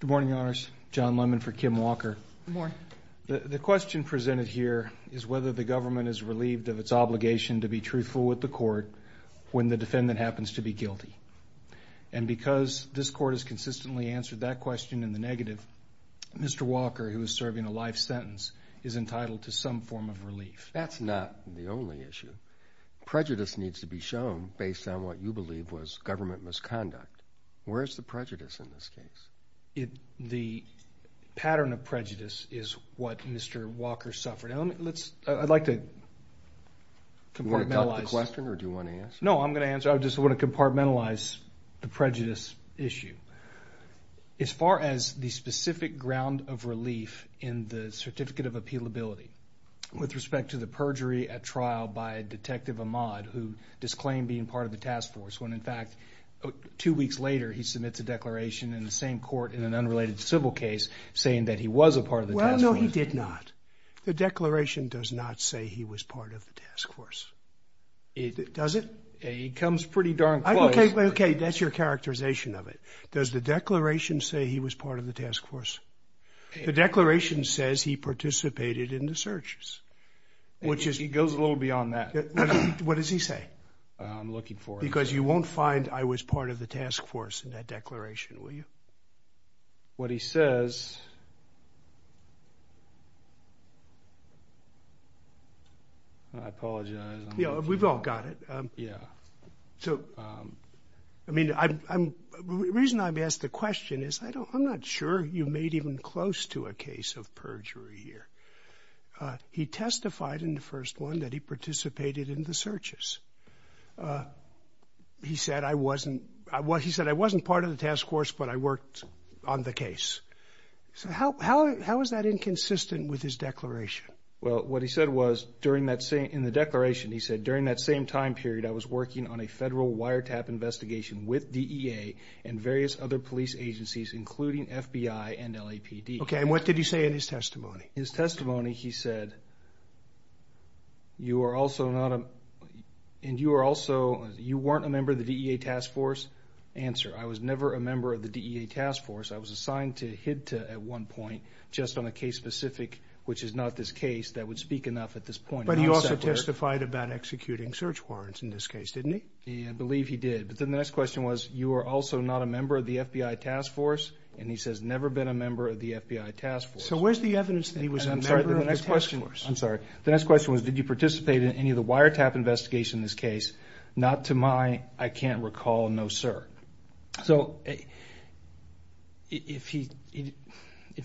Good morning, your honors. John Lemon for Kim Walker. Good morning. The question presented here is whether the government is relieved of its obligation to be truthful with the court when the defendant happens to be guilty. And because this court has consistently answered that question in the negative, Mr. Walker, who is serving a life sentence, is entitled to some form of relief. That's not the only issue. Prejudice needs to be shown based on what you believe was government misconduct. Where is the prejudice in this case? The pattern of prejudice is what Mr. Walker suffered. I'd like to compartmentalize. Do you want to duck the question or do you want to answer? No, I'm going to answer. I just want to compartmentalize the prejudice issue. As far as the specific ground of relief in the certificate of appealability with respect to the perjury at trial by Detective Ahmad, who disclaimed being part of the task force, when in fact two weeks later he submits a declaration in the same court in an unrelated civil case saying that he was a part of the task force. Well, no, he did not. The declaration does not say he was part of the task force. Does it? It comes pretty darn close. Okay, that's your characterization of it. Does the declaration say he was part of the task force? The declaration says he participated in the searches. It goes a little beyond that. What does he say? I'm looking for it. Because you won't find I was part of the task force in that declaration, will you? What he says, I apologize. We've all got it. Yeah. So, I mean, the reason I'm asked the question is I'm not sure you made even close to a case of perjury here. He testified in the first one that he participated in the searches. He said I wasn't part of the task force, but I worked on the case. So how is that inconsistent with his declaration? Well, what he said was, in the declaration, he said, during that same time period I was working on a federal wiretap investigation with DEA and various other police agencies, including FBI and LAPD. Okay, and what did he say in his testimony? His testimony, he said, you were also not a member of the DEA task force? Answer, I was never a member of the DEA task force. I was assigned to HIDTA at one point, just on a case specific, which is not this case, that would speak enough at this point. But he also testified about executing search warrants in this case, didn't he? I believe he did. But then the next question was, you were also not a member of the FBI task force? And he says, never been a member of the FBI task force. So where's the evidence that he was a member of the task force? I'm sorry, the next question was, did you participate in any of the wiretap investigation in this case? Not to my, I can't recall, no, sir. So if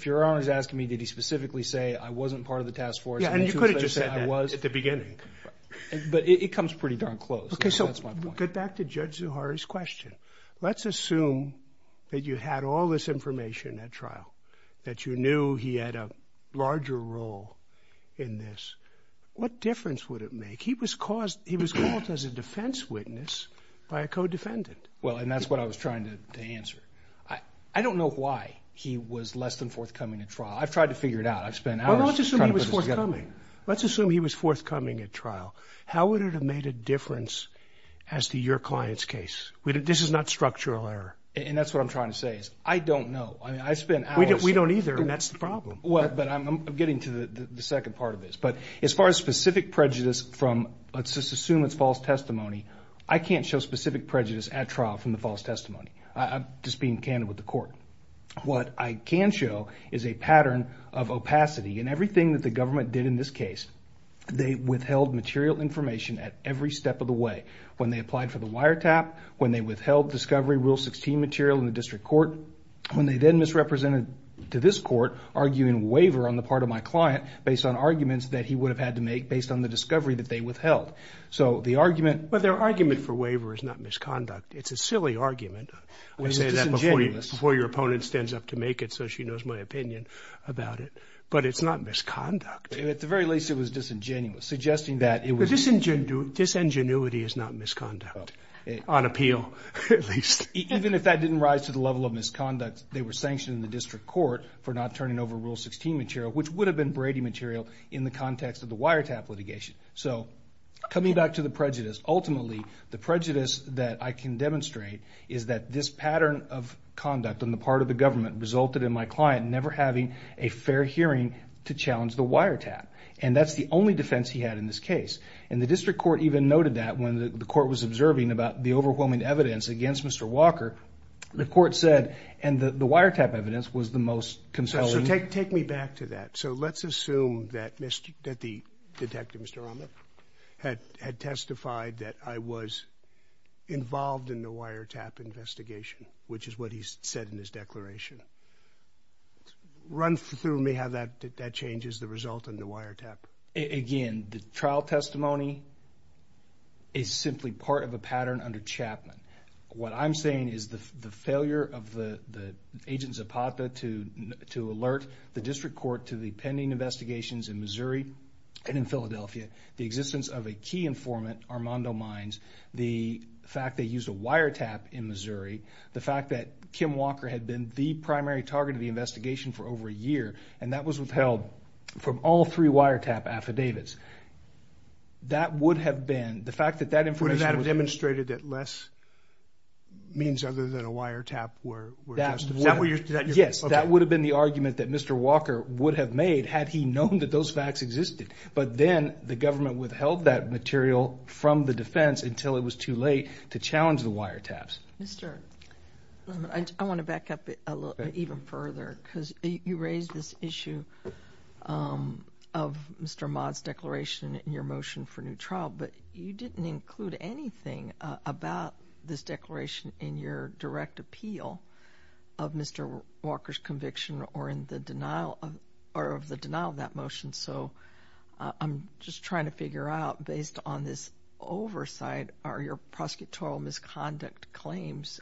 your Honor is asking me, did he specifically say, I wasn't part of the task force? Yeah, and you could have just said that at the beginning. But it comes pretty darn close. Okay, so we'll get back to Judge Zuhari's question. Let's assume that you had all this information at trial, that you knew he had a larger role in this. What difference would it make? He was called as a defense witness by a co-defendant. Well, and that's what I was trying to answer. I don't know why he was less than forthcoming at trial. I've tried to figure it out. I've spent hours trying to put this together. Well, let's assume he was forthcoming. Let's assume he was forthcoming at trial. How would it have made a difference as to your client's case? This is not structural error. And that's what I'm trying to say is, I don't know. I spent hours. We don't either, and that's the problem. Well, but I'm getting to the second part of this. But as far as specific prejudice from, let's just assume it's false testimony, I can't show specific prejudice at trial from the false testimony. I'm just being candid with the court. What I can show is a pattern of opacity. In everything that the government did in this case, they withheld material information at every step of the way. When they applied for the wiretap, when they withheld Discovery Rule 16 material in the district court, when they then misrepresented to this court, arguing waiver on the part of my client, based on arguments that he would have had to make based on the discovery that they withheld. So the argument – But their argument for waiver is not misconduct. It's a silly argument. I say that before your opponent stands up to make it so she knows my opinion about it. But it's not misconduct. At the very least, it was disingenuous, suggesting that it was – Disingenuity is not misconduct, on appeal at least. Even if that didn't rise to the level of misconduct, they were sanctioned in the district court for not turning over Rule 16 material, which would have been Brady material in the context of the wiretap litigation. So coming back to the prejudice, ultimately the prejudice that I can demonstrate is that this pattern of conduct on the part of the government resulted in my client never having a fair hearing to challenge the wiretap. And that's the only defense he had in this case. And the district court even noted that when the court was observing about the overwhelming evidence against Mr. Walker. The court said – and the wiretap evidence was the most compelling. So take me back to that. So let's assume that the detective, Mr. Romnick, had testified that I was involved in the wiretap investigation, which is what he said in his declaration. Run through me how that changes the result in the wiretap. Again, the trial testimony is simply part of a pattern under Chapman. What I'm saying is the failure of the agent Zapata to alert the district court to the pending investigations in Missouri and in Philadelphia, the existence of a key informant, Armando Mines, the fact they used a wiretap in Missouri, the fact that Kim Walker had been the primary target of the investigation for over a year, and that was withheld from all three wiretap affidavits, that would have been – the fact that that information was – Would have demonstrated that less means other than a wiretap were justified. Is that what you're – Yes, that would have been the argument that Mr. Walker would have made had he known that those facts existed. But then the government withheld that material from the defense until it was too late to challenge the wiretaps. I want to back up even further because you raised this issue of Mr. Mott's declaration in your motion for new trial, but you didn't include anything about this declaration in your direct appeal of Mr. Walker's conviction or in the denial of – or of the denial of that motion. So I'm just trying to figure out, based on this oversight, are your prosecutorial misconduct claims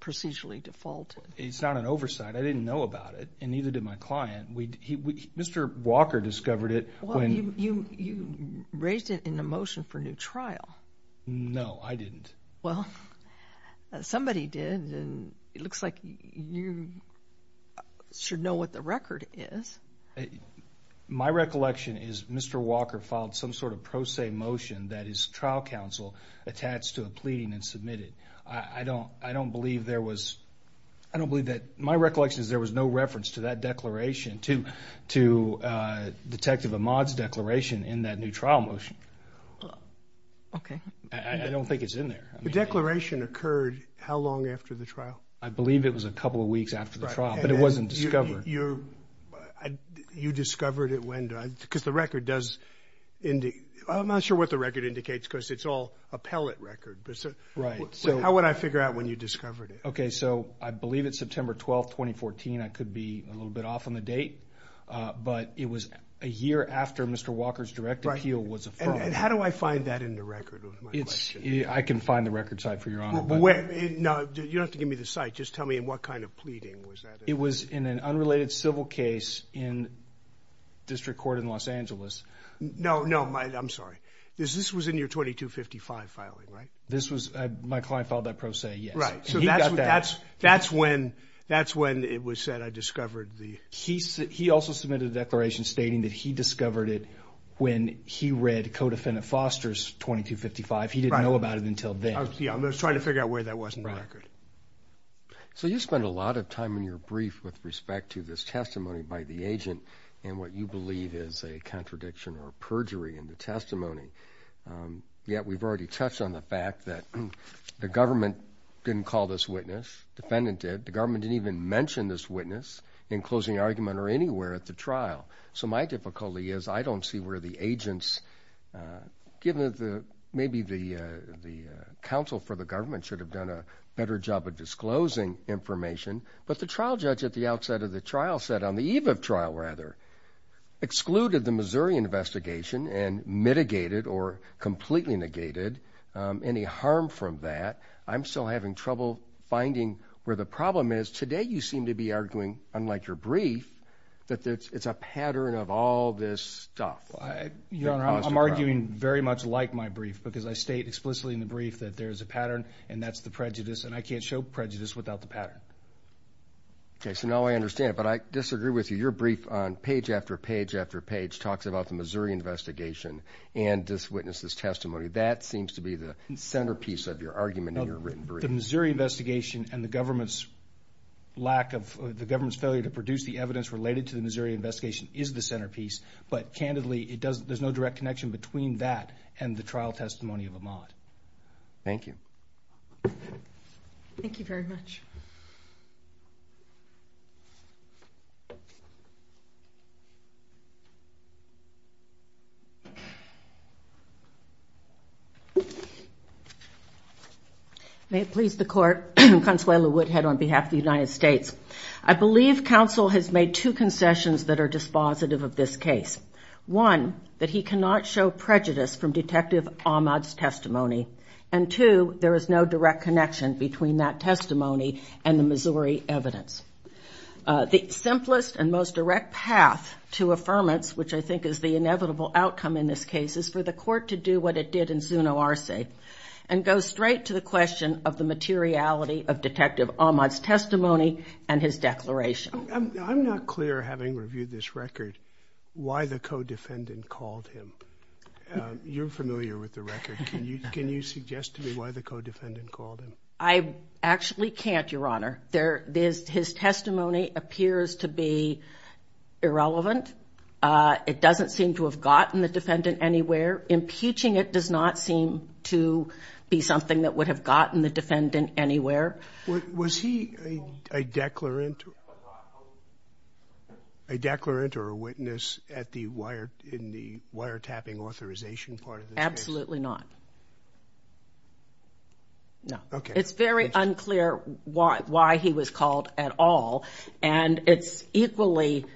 procedurally defaulted? It's not an oversight. I didn't know about it, and neither did my client. Mr. Walker discovered it when – Well, you raised it in the motion for new trial. No, I didn't. Well, somebody did, and it looks like you should know what the record is. My recollection is Mr. Walker filed some sort of pro se motion that his trial counsel attached to a pleading and submitted. I don't believe there was – I don't believe that – my recollection is there was no reference to that declaration, to Detective Ahmaud's declaration in that new trial motion. Okay. I don't think it's in there. The declaration occurred how long after the trial? I believe it was a couple of weeks after the trial, but it wasn't discovered. You discovered it when – because the record does – I'm not sure what the record indicates because it's all a pellet record. Right. So how would I figure out when you discovered it? Okay, so I believe it's September 12th, 2014. I could be a little bit off on the date, but it was a year after Mr. Walker's direct appeal was affirmed. And how do I find that in the record? I can find the record site for you, Your Honor. No, you don't have to give me the site. Just tell me in what kind of pleading was that in. It was in an unrelated civil case in District Court in Los Angeles. No, no, I'm sorry. This was in your 2255 filing, right? This was – my client filed that pro se, yes. Right, so that's when it was said I discovered the – He also submitted a declaration stating that he discovered it when he read Codefendant Foster's 2255. He didn't know about it until then. Yeah, I was trying to figure out where that was in the record. So you spent a lot of time in your brief with respect to this testimony by the agent and what you believe is a contradiction or perjury in the testimony. Yet we've already touched on the fact that the government didn't call this witness. Defendant did. The government didn't even mention this witness in closing argument or anywhere at the trial. So my difficulty is I don't see where the agents, given maybe the counsel for the government should have done a better job of disclosing information, but the trial judge at the outset of the trial said on the eve of trial, rather, excluded the Missouri investigation and mitigated or completely negated any harm from that. I'm still having trouble finding where the problem is. Today you seem to be arguing, unlike your brief, that it's a pattern of all this stuff. Your Honor, I'm arguing very much like my brief because I state explicitly in the brief that there is a pattern and that's the prejudice, and I can't show prejudice without the pattern. Okay, so now I understand, but I disagree with you. Your brief on page after page after page talks about the Missouri investigation and this witness's testimony. That seems to be the centerpiece of your argument in your written brief. The Missouri investigation and the government's lack of, the government's failure to produce the evidence related to the Missouri investigation is the centerpiece, but candidly, there's no direct connection between that and the trial testimony of Ahmaud. Thank you. Thank you very much. May it please the Court, Consuelo Woodhead on behalf of the United States. I believe counsel has made two concessions that are dispositive of this case. One, that he cannot show prejudice from Detective Ahmaud's testimony, and two, there is no direct connection between that testimony and the Missouri evidence. The simplest and most direct path to affirmance, which I think is the inevitable outcome in this case, is for the Court to do what it did in Zuno Arce and go straight to the question of the materiality of Detective Ahmaud's testimony and his declaration. I'm not clear, having reviewed this record, why the co-defendant called him. You're familiar with the record. Can you suggest to me why the co-defendant called him? I actually can't, Your Honor. His testimony appears to be irrelevant. It doesn't seem to have gotten the defendant anywhere. Impeaching it does not seem to be something that would have gotten the defendant anywhere. Was he a declarant or a witness in the wiretapping authorization part of this case? Absolutely not. No. Okay. It's very unclear why he was called at all, and it's equally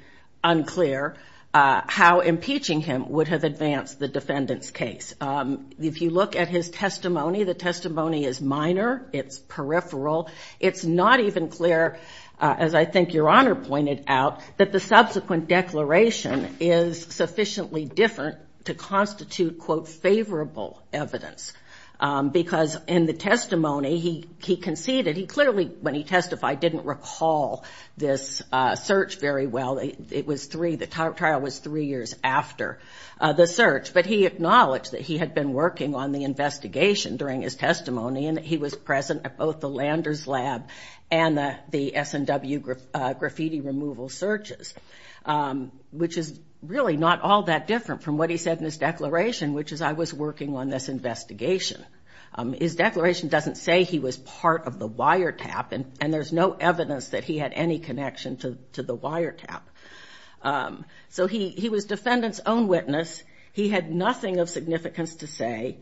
unclear how impeaching him would have advanced the defendant's case. If you look at his testimony, the testimony is minor. It's peripheral. It's not even clear, as I think Your Honor pointed out, that the subsequent declaration is sufficiently different to constitute, quote, favorable evidence, because in the testimony, he conceded. He clearly, when he testified, didn't recall this search very well. The trial was three years after the search, but he acknowledged that he had been working on the investigation during his testimony and that he was present at both the Landers Lab and the SNW graffiti removal searches, which is really not all that different from what he said in his declaration, which is, I was working on this investigation. His declaration doesn't say he was part of the wiretap, and there's no evidence that he had any connection to the wiretap. So he was defendant's own witness. He had nothing of significance to say.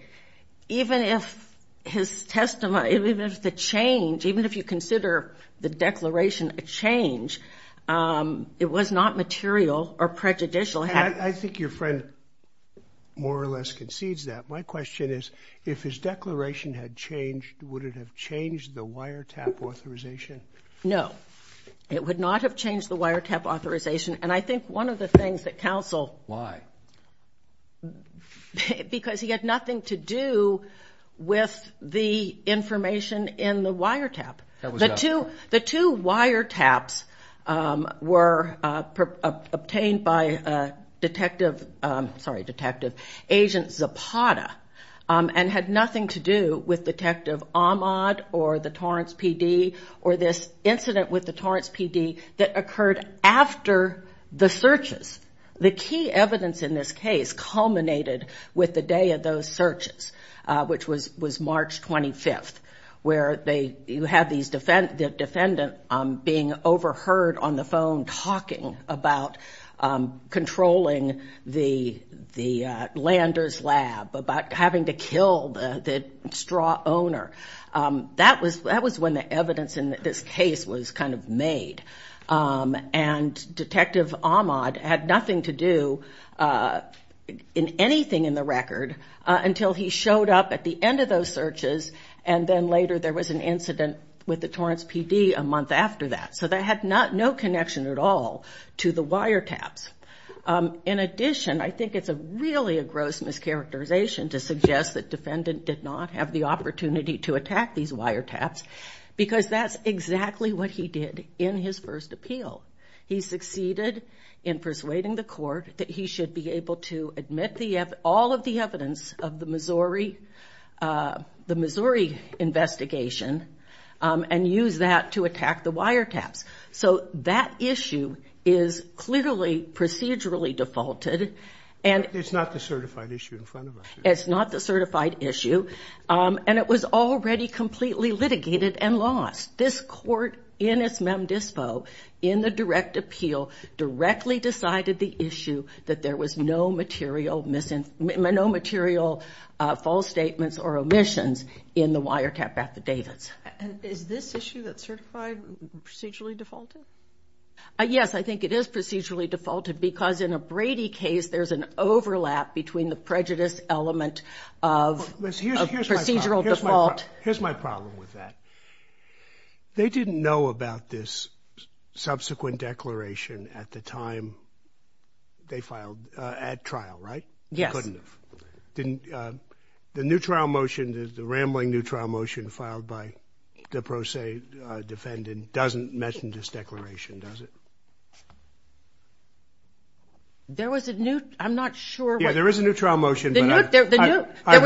Even if his testimony, even if the change, even if you consider the declaration a change, it was not material or prejudicial. I think your friend more or less concedes that. My question is, if his declaration had changed, would it have changed the wiretap authorization? No. It would not have changed the wiretap authorization. And I think one of the things that counsel. Why? Because he had nothing to do with the information in the wiretap. The two wiretaps were obtained by Detective, sorry, Detective Agent Zapata and had nothing to do with Detective Ahmad or the Torrance PD or this incident with the Torrance PD that occurred after the searches. The key evidence in this case culminated with the day of those searches, which was March 25th, where you had the defendant being overheard on the phone talking about controlling the Landers lab, about having to kill the straw owner. That was when the evidence in this case was kind of made. And Detective Ahmad had nothing to do in anything in the record until he showed up at the end of those searches and then later there was an incident with the Torrance PD a month after that. So that had no connection at all to the wiretaps. In addition, I think it's really a gross mischaracterization to suggest that defendant did not have the opportunity to attack these wiretaps because that's exactly what he did in his first appeal. He succeeded in persuading the court that he should be able to admit all of the evidence of the Missouri investigation and use that to attack the wiretaps. So that issue is clearly procedurally defaulted. It's not the certified issue in front of us. It's not the certified issue. And it was already completely litigated and lost. This court, in its mem dispo, in the direct appeal, directly decided the issue that there was no material false statements or omissions in the wiretap affidavits. Is this issue that's certified procedurally defaulted? Yes, I think it is procedurally defaulted because in a Brady case there's an overlap between the prejudice element of procedural default. Here's my problem with that. They didn't know about this subsequent declaration at the time they filed at trial, right? Yes. Couldn't have. The new trial motion, the rambling new trial motion filed by the pro se defendant doesn't mention this declaration, does it? There was a new, I'm not sure. Yeah, there is a new trial motion. There was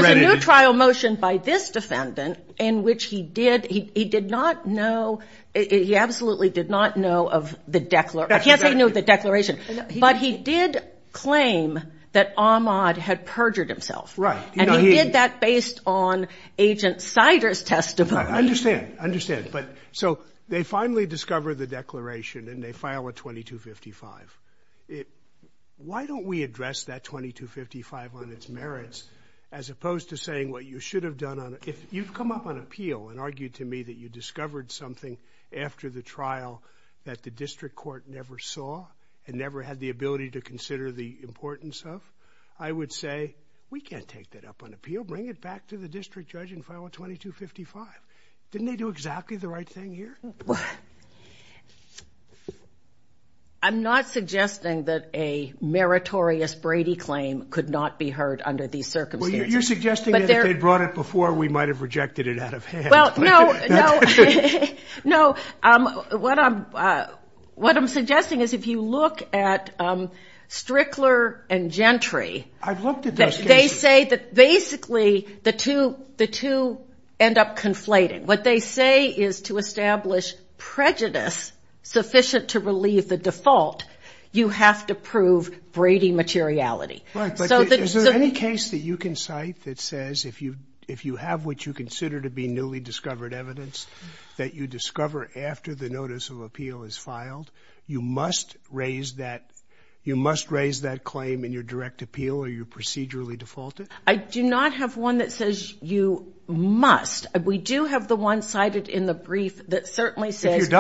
a new trial motion by this defendant in which he did not know, he absolutely did not know of the declaration. Yes, he knew of the declaration. But he did claim that Ahmaud had perjured himself. Right. And he did that based on Agent Sider's testimony. I understand. I understand. So they finally discover the declaration and they file a 2255. Why don't we address that 2255 on its merits as opposed to saying what you should have done on it? If you've come up on appeal and argued to me that you discovered something after the trial that the district court never saw and never had the ability to consider the importance of, I would say we can't take that up on appeal. Bring it back to the district judge and file a 2255. Didn't they do exactly the right thing here? I'm not suggesting that a meritorious Brady claim could not be heard under these circumstances. Well, you're suggesting that they brought it before we might have rejected it out of hand. Well, no. No. What I'm suggesting is if you look at Strickler and Gentry. I've looked at those cases. They say that basically the two end up conflating. What they say is to establish prejudice sufficient to relieve the default, you have to prove Brady materiality. Right, but is there any case that you can cite that says if you have what you consider to be newly discovered evidence that you discover after the notice of appeal is filed, you must raise that claim in your direct appeal or you procedurally default it? I do not have one that says you must. We do have the one cited in the brief that certainly says you can. If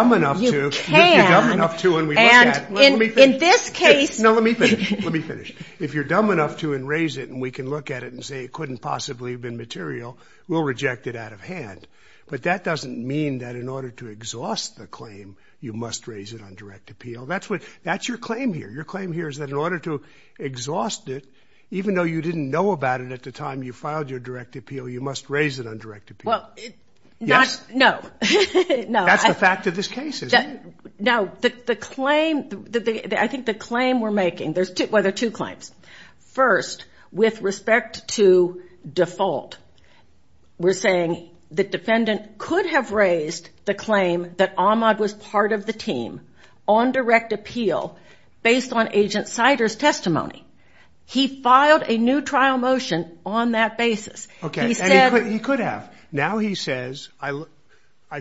you're dumb enough to and we look at it. In this case. No, let me finish. Let me finish. If you're dumb enough to and raise it and we can look at it and say it couldn't possibly have been material, we'll reject it out of hand. But that doesn't mean that in order to exhaust the claim, you must raise it on direct appeal. That's your claim here. Your claim here is that in order to exhaust it, even though you didn't know about it at the time you filed your direct appeal, you must raise it on direct appeal. Yes. No. That's the fact of this case, isn't it? No. I think the claim we're making, well, there are two claims. First, with respect to default, we're saying the defendant could have raised the claim that Ahmad was part of the team on direct appeal based on Agent Sider's testimony. He filed a new trial motion on that basis. Okay. And he could have. Now he says I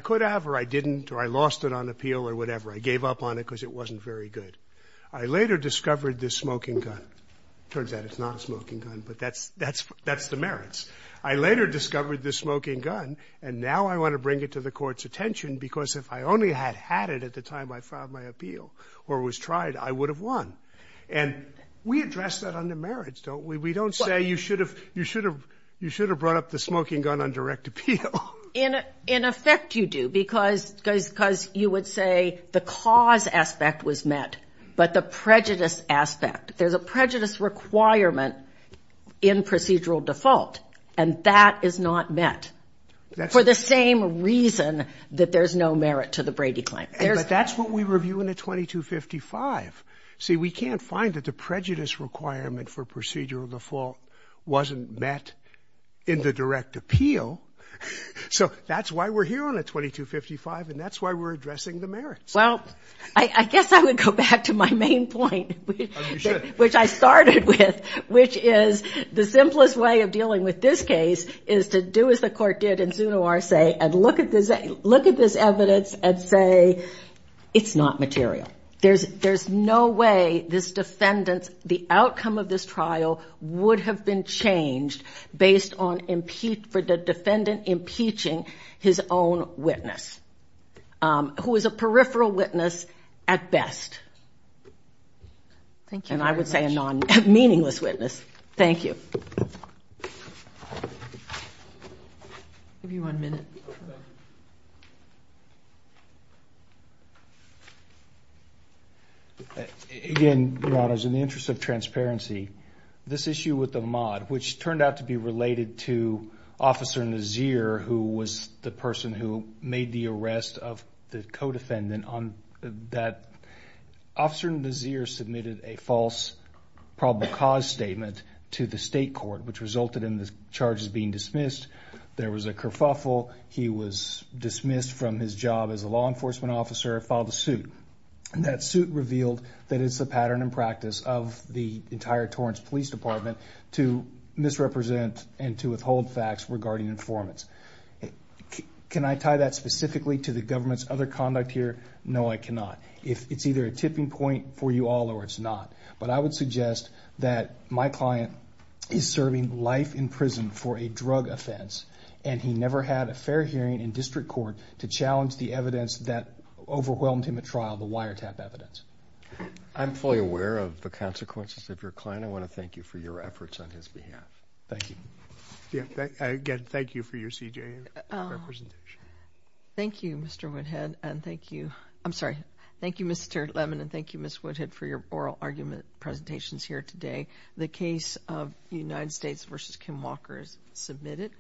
could have or I didn't or I lost it on appeal or whatever. I gave up on it because it wasn't very good. I later discovered this smoking gun. It turns out it's not a smoking gun, but that's the merits. I later discovered this smoking gun, and now I want to bring it to the Court's attention because if I only had had it at the time I filed my appeal or was tried, I would have won. And we address that under merits, don't we? We don't say you should have brought up the smoking gun on direct appeal. In effect, you do because you would say the cause aspect was met, but the prejudice aspect, there's a prejudice requirement in procedural default, and that is not met for the same reason that there's no merit to the Brady claim. But that's what we review in the 2255. See, we can't find that the prejudice requirement for procedural default wasn't met in the direct appeal, so that's why we're here on the 2255, and that's why we're addressing the merits. Well, I guess I would go back to my main point. Oh, you should. Which I started with, which is the simplest way of dealing with this case is to do as the Court did in zoonoir say and look at this evidence and say it's not material. There's no way this defendant, the outcome of this trial, would have been changed based on the defendant impeaching his own witness, who is a peripheral witness at best. Thank you very much. And I would say a non-meaningless witness. Thank you. I'll give you one minute. Again, Your Honors, in the interest of transparency, this issue with Ahmaud, which turned out to be related to Officer Nazir, who was the person who made the arrest of the co-defendant on that. Officer Nazir submitted a false probable cause statement to the state court, which resulted in the charges being dismissed. There was a kerfuffle. He was dismissed from his job as a law enforcement officer and filed a suit. And that suit revealed that it's a pattern and practice of the entire Torrance Police Department to misrepresent and to withhold facts regarding informants. Can I tie that specifically to the government's other conduct here? No, I cannot. It's either a tipping point for you all or it's not. But I would suggest that my client is serving life in prison for a drug offense, and he never had a fair hearing in district court to challenge the evidence that overwhelmed him at trial, the wiretap evidence. I'm fully aware of the consequences of your client. I want to thank you for your efforts on his behalf. Thank you. Again, thank you for your CJA representation. Thank you, Mr. Woodhead, and thank you. I'm sorry. Thank you, Mr. Lemon, and thank you, Ms. Woodhead, for your oral argument presentations here today. The case of United States v. Kim Walker is submitted.